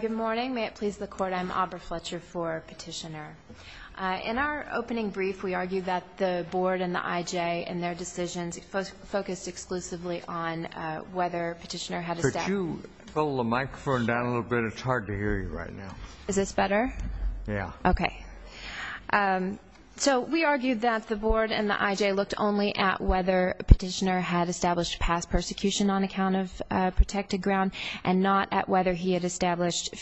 Good morning. May it please the Court, I'm Aubrey Fletcher for Petitioner. In our opening brief, we argued that the Board and the IJ in their decisions focused exclusively on whether Petitioner had established Could you pull the microphone down a little bit? It's hard to hear you right now. Is this better? Yeah. Okay. So we argued that the Board and the IJ looked only at whether Petitioner had established past persecution on account of protected ground and not at whether he had established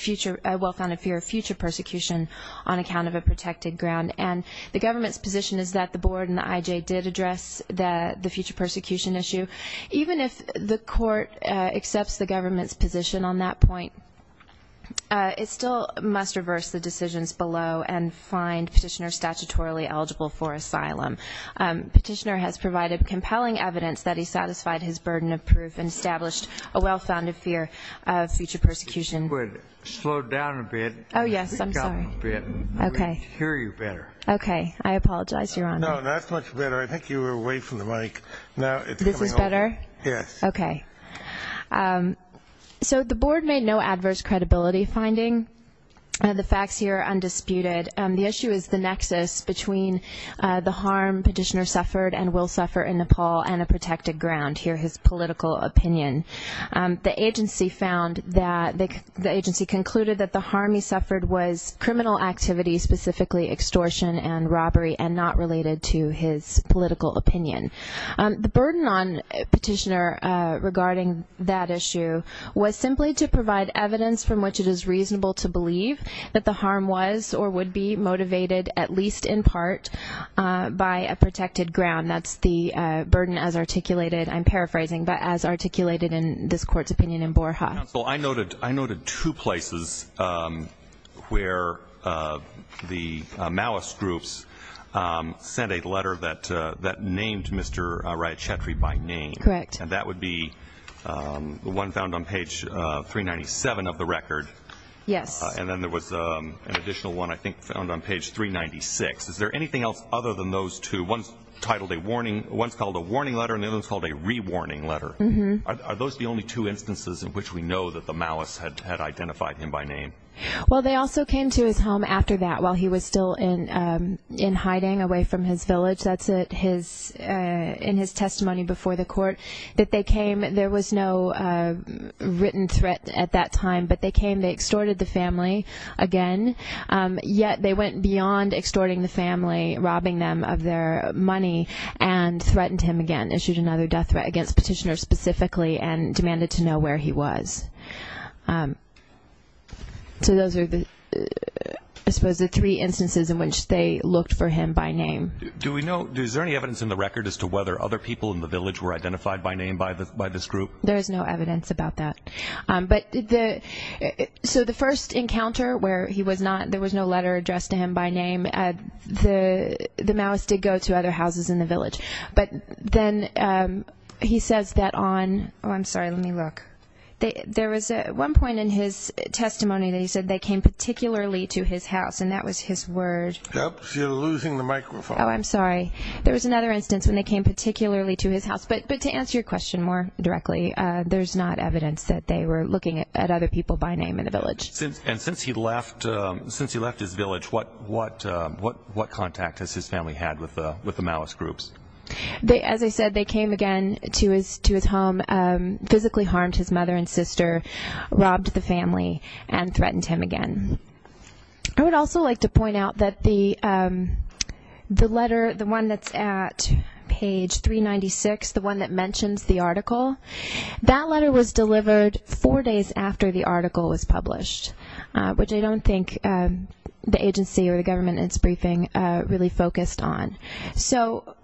a well-founded fear of future persecution on account of a protected ground. And the Government's position is that the Board and the IJ did address the future persecution issue. Even if the Court accepts the Government's position on that point, it still must reverse the decisions below and find Petitioner statutorily eligible for asylum. Petitioner has provided compelling evidence that he satisfied his burden of proof and established a well-founded fear of future persecution. Slow down a bit. Oh, yes. I'm sorry. I can't hear you better. Okay. I apologize, Your Honor. No, that's much better. I think you were away from the mic. This is better? Yes. Okay. So the Board made no adverse credibility finding. The facts here are undisputed. The issue is the nexus between the harm Petitioner suffered and will suffer in Nepal and a protected ground here, his political opinion. The agency concluded that the harm he suffered was criminal activity, specifically extortion and robbery, and not related to his political opinion. The burden on Petitioner regarding that issue was simply to provide evidence from which it is reasonable to believe that the harm was or would be motivated, at least in part, by a protected ground. That's the burden as articulated, I'm paraphrasing, but as articulated in this Court's opinion in Borja. Counsel, I noted two places where the Maoist groups sent a letter that named Mr. Rajachetri by name. Correct. And that would be the one found on page 397 of the record. Yes. And then there was an additional one I think found on page 396. Is there anything else other than those two? One's called a warning letter and the other one's called a re-warning letter. Are those the only two instances in which we know that the Maoists had identified him by name? Well, they also came to his home after that while he was still in hiding away from his village. That's in his testimony before the Court that they came. There was no written threat at that time, but they came. They extorted the family again, yet they went beyond extorting the family, robbing them of their money, and threatened him again, issued another death threat against Petitioner specifically and demanded to know where he was. So those are, I suppose, the three instances in which they looked for him by name. Is there any evidence in the record as to whether other people in the village were identified by name by this group? There is no evidence about that. So the first encounter where there was no letter addressed to him by name, the Maoists did go to other houses in the village. But then he says that on, oh, I'm sorry, let me look. There was one point in his testimony that he said they came particularly to his house, and that was his word. You're losing the microphone. Oh, I'm sorry. There was another instance when they came particularly to his house. But to answer your question more directly, there's not evidence that they were looking at other people by name in the village. And since he left his village, what contact has his family had with the Maoist groups? As I said, they came again to his home, physically harmed his mother and sister, robbed the family, and threatened him again. I would also like to point out that the letter, the one that's at page 396, the one that mentions the article, that letter was delivered four days after the article was published, which I don't think the agency or the government in its briefing really focused on. So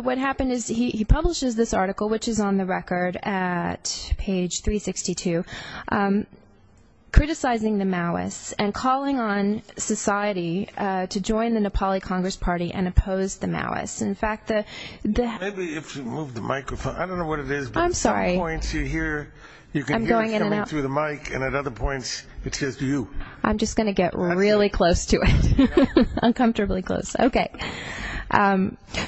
what happened is he publishes this article, which is on the record at page 362, criticizing the Maoists and calling on society to join the Nepali Congress Party and oppose the Maoists. In fact, the- Maybe if you move the microphone. I don't know what it is, but at some points you hear- I'm sorry. You can hear it coming through the mic, and at other points it's just you. I'm just going to get really close to it, uncomfortably close. Okay.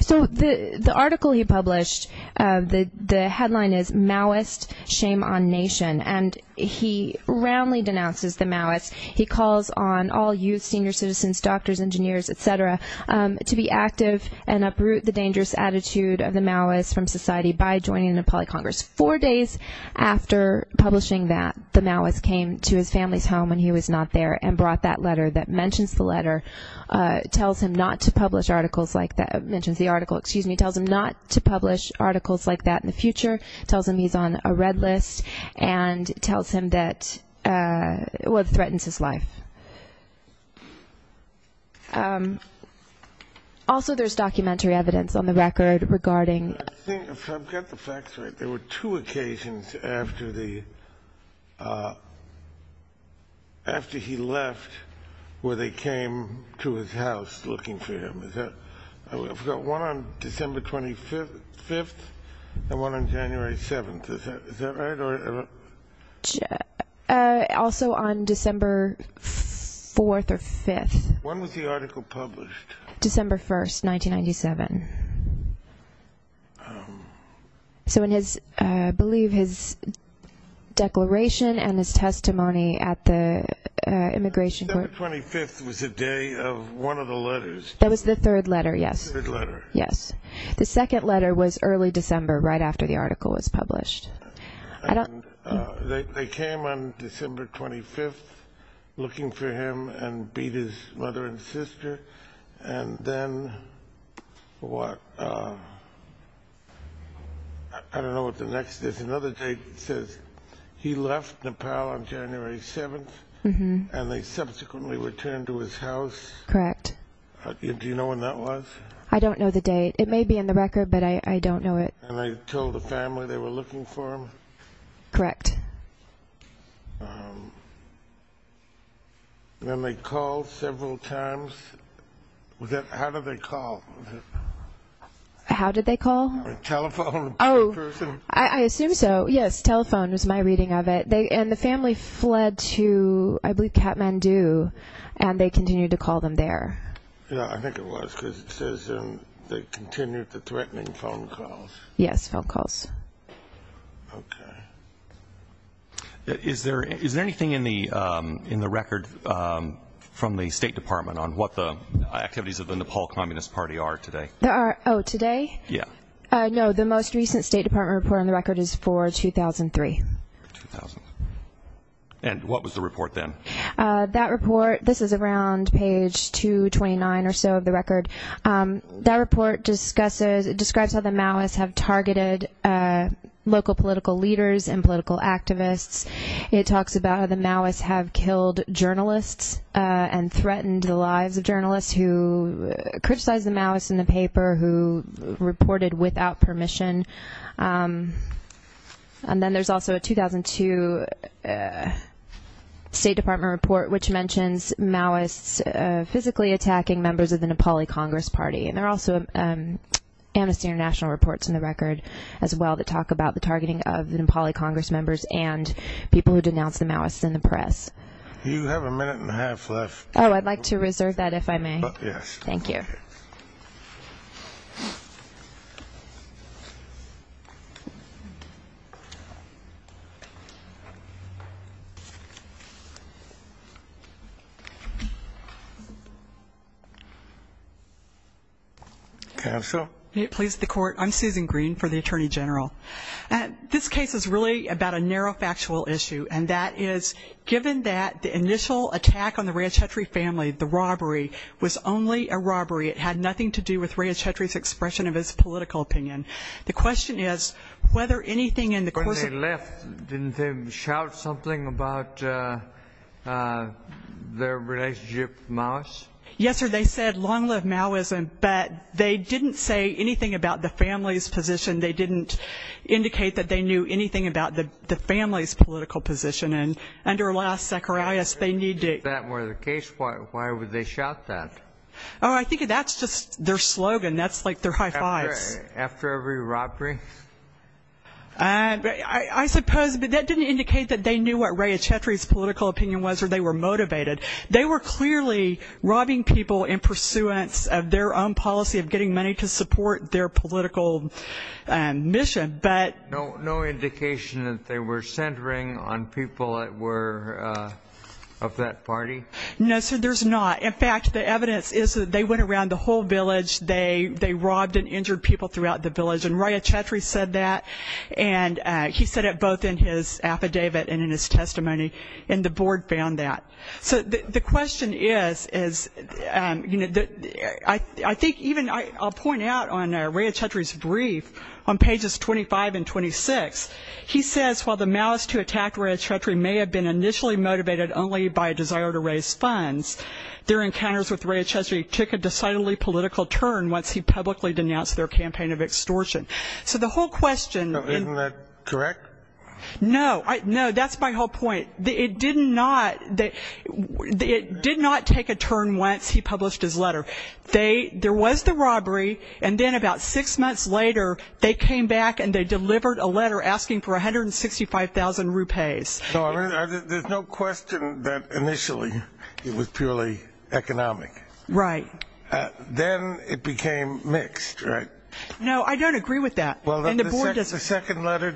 So the article he published, the headline is Maoist Shame on Nation. And he roundly denounces the Maoists. He calls on all youth, senior citizens, doctors, engineers, et cetera, to be active and uproot the dangerous attitude of the Maoists from society by joining the Nepali Congress. Four days after publishing that, the Maoists came to his family's home when he was not there and brought that letter that mentions the letter, tells him not to publish articles like that, mentions the article, excuse me, tells him not to publish articles like that in the future, tells him he's on a red list, and tells him that, well, it threatens his life. Also, there's documentary evidence on the record regarding- If I've got the facts right, there were two occasions after the- after he left where they came to his house looking for him. I've got one on December 25th and one on January 7th. Is that right? Also on December 4th or 5th. When was the article published? December 1st, 1997. So in his, I believe, his declaration and his testimony at the immigration court- December 25th was the day of one of the letters. That was the third letter, yes. The second letter was early December, right after the article was published. They came on December 25th looking for him and beat his mother and sister, and then what, I don't know what the next- there's another date that says he left Nepal on January 7th, and they subsequently returned to his house. Correct. Do you know when that was? I don't know the date. It may be in the record, but I don't know it. And they told the family they were looking for him? Correct. Then they called several times. How did they call? How did they call? A telephone person? Oh, I assume so. Yes, telephone was my reading of it. And the family fled to, I believe, Kathmandu, and they continued to call them there. Yeah, I think it was, because it says they continued the threatening phone calls. Yes, phone calls. Okay. Is there anything in the record from the State Department on what the activities of the Nepal Communist Party are today? Oh, today? Yeah. No, the most recent State Department report on the record is for 2003. And what was the report then? That report, this is around page 229 or so of the record, that report describes how the Maoists have targeted local political leaders and political activists. It talks about how the Maoists have killed journalists and threatened the lives of journalists who criticized the Maoists in the paper who reported without permission. And then there's also a 2002 State Department report which mentions Maoists physically attacking members of the Nepali Congress Party. And there are also Amnesty International reports in the record as well that talk about the targeting of the Nepali Congress members and people who denounced the Maoists in the press. You have a minute and a half left. Oh, I'd like to reserve that if I may. Yes. Thank you. Counsel? Please, the Court. I'm Susan Green for the Attorney General. This case is really about a narrow factual issue, and that is given that the initial attack on the Ranchetri family, the robbery, was only a robbery. It had nothing to do with Ranchetri's expression of his political opinion. The question is whether anything in the course of the- When they left, didn't they shout something about their relationship with the Maoists? Yes, sir. They said long live Maoism, but they didn't say anything about the family's position. They didn't indicate that they knew anything about the family's political position. If that were the case, why would they shout that? Oh, I think that's just their slogan. That's like their high fives. After every robbery? I suppose. But that didn't indicate that they knew what Ranchetri's political opinion was or they were motivated. They were clearly robbing people in pursuance of their own policy of getting money to support their political mission. No indication that they were centering on people that were of that party? No, sir, there's not. In fact, the evidence is that they went around the whole village. They robbed and injured people throughout the village, and Ranchetri said that, and he said it both in his affidavit and in his testimony, and the board found that. So the question is, I think even I'll point out on Ranchetri's brief on pages 25 and 26, he says while the Maoists who attacked Ranchetri may have been initially motivated only by a desire to raise funds, their encounters with Ranchetri took a decidedly political turn once he publicly denounced their campaign of extortion. So the whole question. Isn't that correct? No, that's my whole point. It did not take a turn once he published his letter. There was the robbery, and then about six months later, they came back and they delivered a letter asking for 165,000 rupees. There's no question that initially it was purely economic. Right. Then it became mixed, right? No, I don't agree with that. The second letter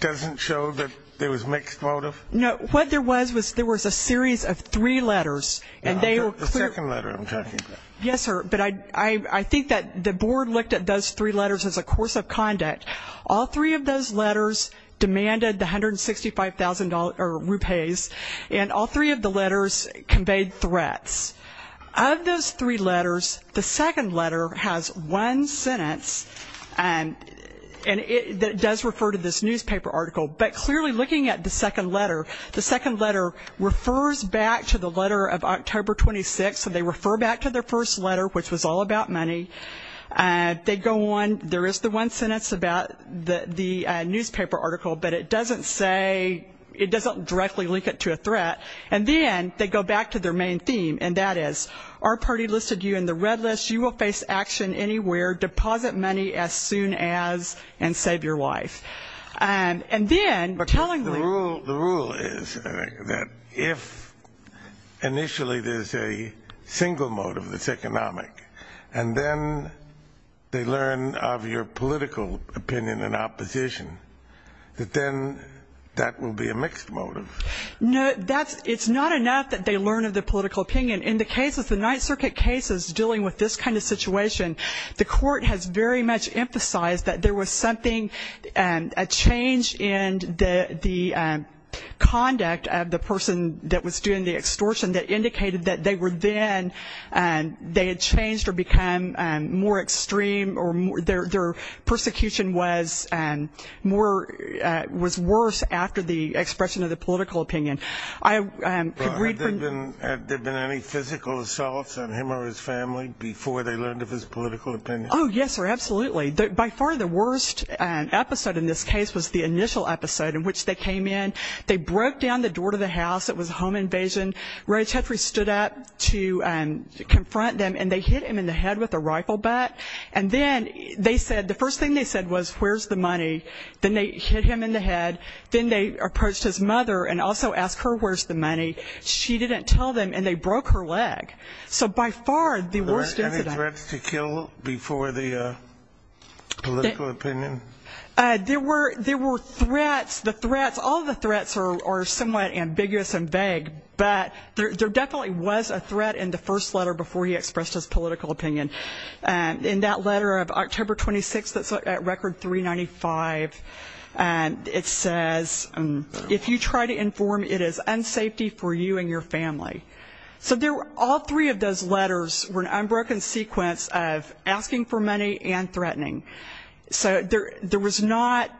doesn't show that there was mixed motive? No, what there was was there was a series of three letters, and they were clear. The second letter I'm talking about. Yes, sir, but I think that the board looked at those three letters as a course of conduct. All three of those letters demanded the 165,000 rupees, and all three of the letters conveyed threats. Of those three letters, the second letter has one sentence, and it does refer to this newspaper article. But clearly looking at the second letter, the second letter refers back to the letter of October 26th, so they refer back to their first letter, which was all about money. They go on. There is the one sentence about the newspaper article, but it doesn't directly link it to a threat. And then they go back to their main theme, and that is, our party listed you in the red list. You will face action anywhere. Deposit money as soon as, and save your life. And then, tellingly. The rule is that if initially there's a single motive that's economic, and then they learn of your political opinion and opposition, that then that will be a mixed motive. No, it's not enough that they learn of the political opinion. In the cases, the Ninth Circuit cases dealing with this kind of situation, the court has very much emphasized that there was something, a change in the conduct of the person that was doing the extortion that indicated that they were then, they had changed or become more extreme, or their persecution was more, was worse after the expression of the political opinion. I could read from. Had there been any physical assaults on him or his family before they learned of his political opinion? Oh, yes, sir. Absolutely. By far the worst episode in this case was the initial episode in which they came in. They broke down the door to the house. It was a home invasion. Roy Tetre stood up to confront them, and they hit him in the head with a rifle bat. And then they said, the first thing they said was, where's the money? Then they hit him in the head. Then they approached his mother and also asked her where's the money. She didn't tell them, and they broke her leg. So by far the worst incident. Were there any threats to kill before the political opinion? There were threats. The threats, all the threats are somewhat ambiguous and vague, but there definitely was a threat in the first letter before he expressed his political opinion. In that letter of October 26th that's at Record 395, it says, if you try to inform, it is unsafety for you and your family. So all three of those letters were an unbroken sequence of asking for money and threatening. So there was not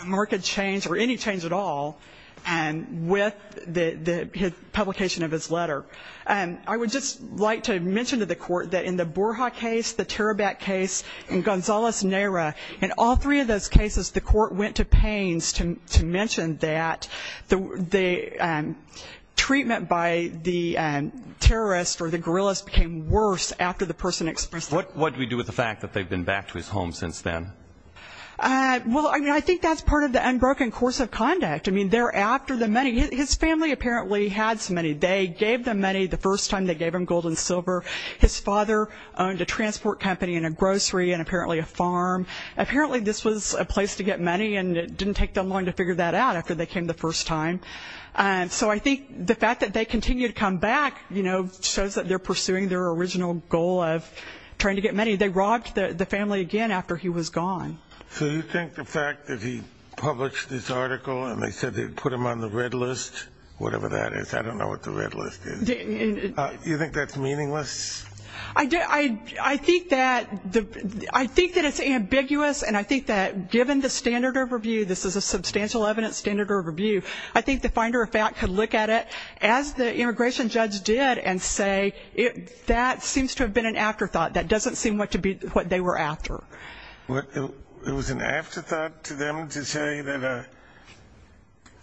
a marked change or any change at all with the publication of his letter. I would just like to mention to the court that in the Borja case, the Tarabat case, and Gonzales-Neira, in all three of those cases the court went to pains to mention that the treatment by the terrorist or the guerrillas became worse after the person expressed their opinion. What do we do with the fact that they've been back to his home since then? Well, I mean, I think that's part of the unbroken course of conduct. I mean, they're after the money. His family apparently had some money. His father owned a transport company and a grocery and apparently a farm. Apparently this was a place to get money and it didn't take them long to figure that out after they came the first time. So I think the fact that they continue to come back, you know, shows that they're pursuing their original goal of trying to get money. They robbed the family again after he was gone. So you think the fact that he published this article and they said they'd put him on the red list, whatever that is, I don't know what the red list is, you think that's meaningless? I think that it's ambiguous and I think that given the standard of review, this is a substantial evidence standard of review, I think the finder of fact could look at it as the immigration judge did and say that seems to have been an afterthought. That doesn't seem what they were after. It was an afterthought to them to say that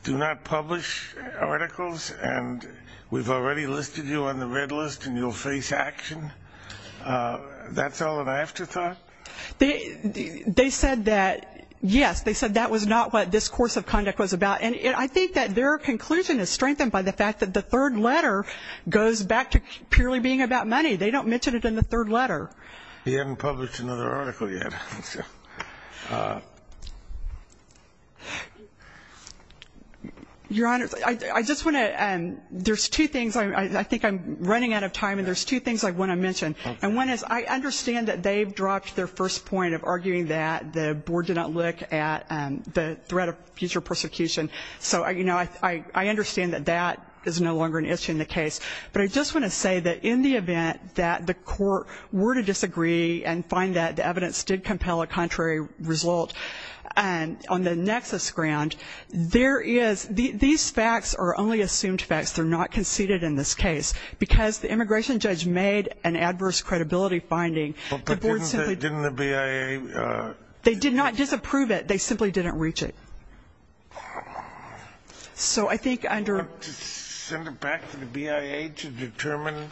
do not publish articles and we've already listed you on the red list and you'll face action. That's all an afterthought? They said that, yes, they said that was not what this course of conduct was about and I think that their conclusion is strengthened by the fact that the third letter goes back to purely being about money. They don't mention it in the third letter. He hadn't published another article yet. Your Honor, I just want to, there's two things, I think I'm running out of time and there's two things I want to mention. One is I understand that they've dropped their first point of arguing that the board did not look at the threat of future persecution. So I understand that that is no longer an issue in the case. But I just want to say that in the event that the court were to disagree and find that the evidence did compel a contrary result on the nexus ground, there is, these facts are only assumed facts. They're not conceded in this case. Because the immigration judge made an adverse credibility finding. Didn't the BIA? They did not disapprove it. They simply didn't reach it. So I think under. To send it back to the BIA to determine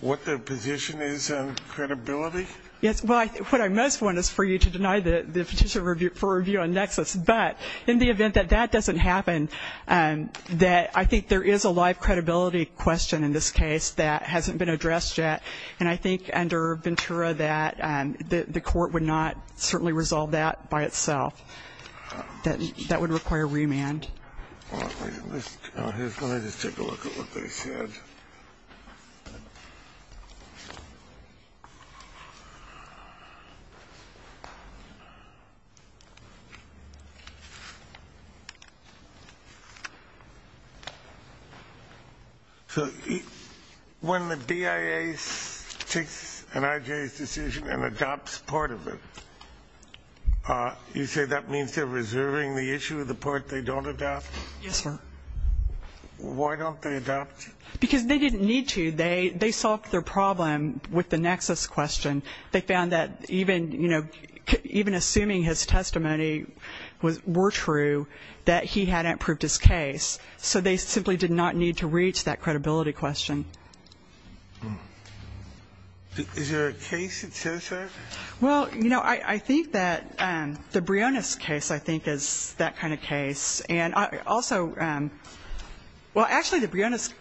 what their position is on credibility? Yes, well, what I most want is for you to deny the petition for review on nexus. But in the event that that doesn't happen, that I think there is a live credibility question in this case that hasn't been addressed yet. And I think under Ventura that the court would not certainly resolve that by itself. That would require remand. Let me just take a look at what they said. So when the BIA takes an IJA's decision and adopts part of it, you say that means they're reserving the issue of the part they don't adopt? Yes, sir. Why don't they adopt? Because they didn't need to. They solved their problem with the nexus question. They found that even, you know, even assuming his testimony were true that he hadn't approved his case. So they simply did not need to reach that credibility question. Is there a case that says that? Well, you know, I think that the Briones case I think is that kind of case. And also, well, actually the Briones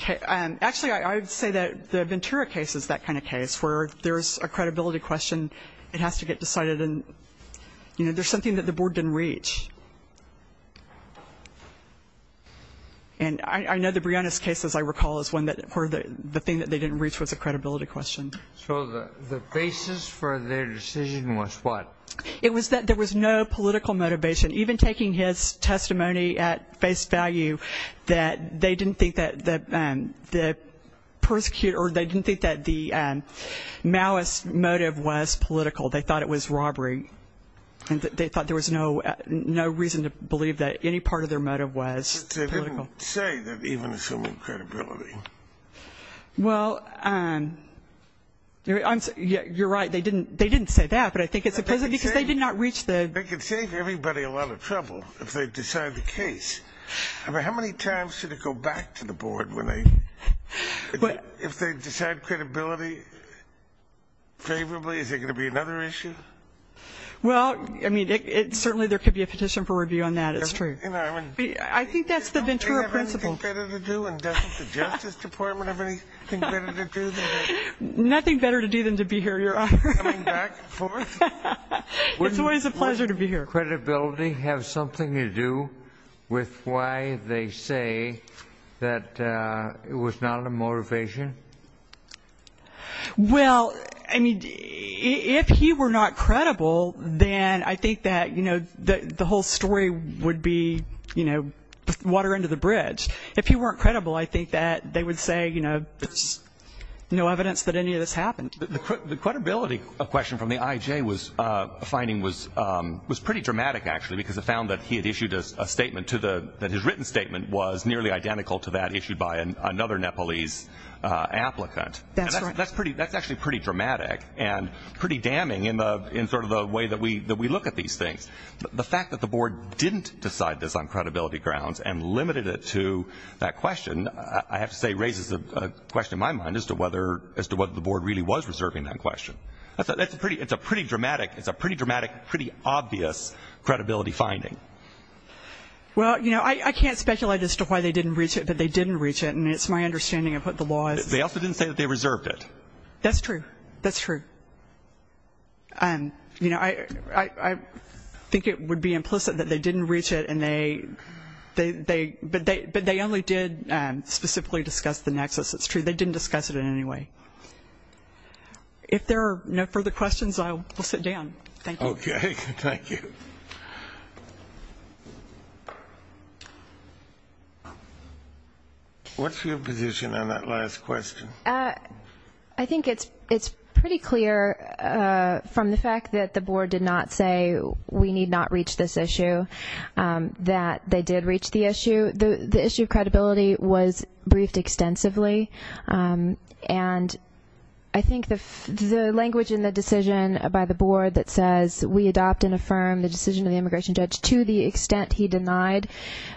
case, actually I would say that the Ventura case is that kind of case where there's a credibility question that has to get decided and, you know, there's something that the board didn't reach. And I know the Briones case, as I recall, is one where the thing that they didn't reach was a credibility question. So the basis for their decision was what? It was that there was no political motivation. Even taking his testimony at face value, that they didn't think that the persecutor or they didn't think that the malice motive was political. They thought it was robbery. They thought there was no reason to believe that any part of their motive was political. But they didn't say that even assuming credibility. Well, you're right. They didn't say that. But I think it's because they did not reach the. They could save everybody a lot of trouble if they decide the case. I mean, how many times should it go back to the board when they? If they decide credibility favorably, is there going to be another issue? Well, I mean, certainly there could be a petition for review on that. It's true. I think that's the Ventura principle. Don't they have anything better to do and doesn't the Justice Department have anything better to do? Nothing better to do than to be here, Your Honor. Coming back forth? It's always a pleasure to be here. Wouldn't credibility have something to do with why they say that it was not a motivation? Well, I mean, if he were not credible, then I think that the whole story would be, you know, water under the bridge. If he weren't credible, I think that they would say, you know, there's no evidence that any of this happened. The credibility question from the IJ finding was pretty dramatic, actually, because it found that he had issued a statement that his written statement was nearly identical to that issued by another Nepalese applicant. That's right. That's actually pretty dramatic and pretty damning in sort of the way that we look at these things. The fact that the board didn't decide this on credibility grounds and limited it to that question, I have to say, raises a question in my mind as to whether the board really was reserving that question. It's a pretty dramatic, pretty obvious credibility finding. Well, you know, I can't speculate as to why they didn't reach it, but they didn't reach it, and it's my understanding of what the law is. They also didn't say that they reserved it. That's true. That's true. You know, I think it would be implicit that they didn't reach it, but they only did specifically discuss the nexus. That's true. They didn't discuss it in any way. If there are no further questions, I will sit down. Thank you. Okay. Thank you. What's your position on that last question? I think it's pretty clear from the fact that the board did not say we need not reach this issue that they did reach the issue. The issue of credibility was briefed extensively, and I think the language in the decision by the board that says we adopt and affirm the decision of the immigration judge to the extent he denied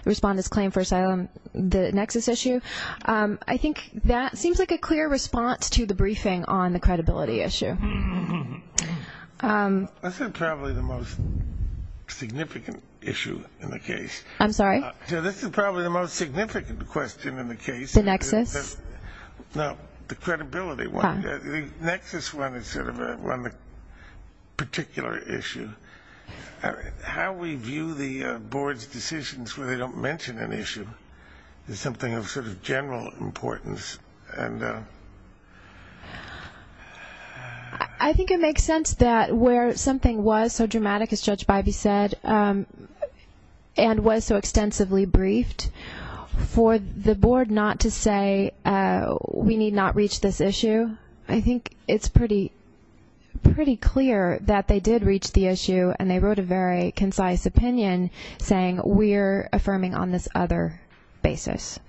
the respondent's claim for asylum, the nexus issue, I think that seems like a clear response to the briefing on the credibility issue. This is probably the most significant issue in the case. I'm sorry? This is probably the most significant question in the case. The nexus? No, the credibility one. The nexus one is sort of a particular issue. How we view the board's decisions where they don't mention an issue is something of sort of general importance. I think it makes sense that where something was so dramatic, as Judge Bivey said, and was so extensively briefed, for the board not to say we need not reach this issue, I think it's pretty clear that they did reach the issue, and they wrote a very concise opinion saying we're affirming on this other basis.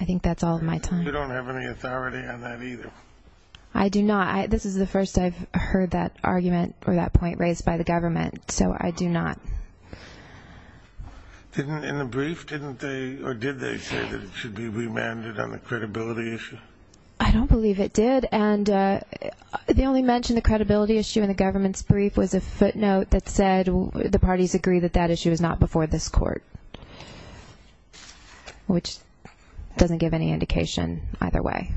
I think that's all of my time. You don't have any authority on that either. I do not. This is the first I've heard that argument or that point raised by the government, so I do not. In the brief, didn't they or did they say that it should be remanded on the credibility issue? I don't believe it did, and they only mentioned the credibility issue in the government's brief was a footnote that said the parties agree that that issue is not before this court, which doesn't give any indication either way.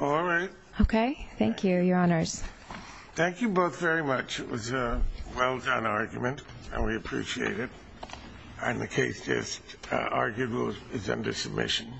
All right. Okay. Thank you. Your honors. Thank you both very much. It was a well-done argument, and we appreciate it. And the case just argued is under submission.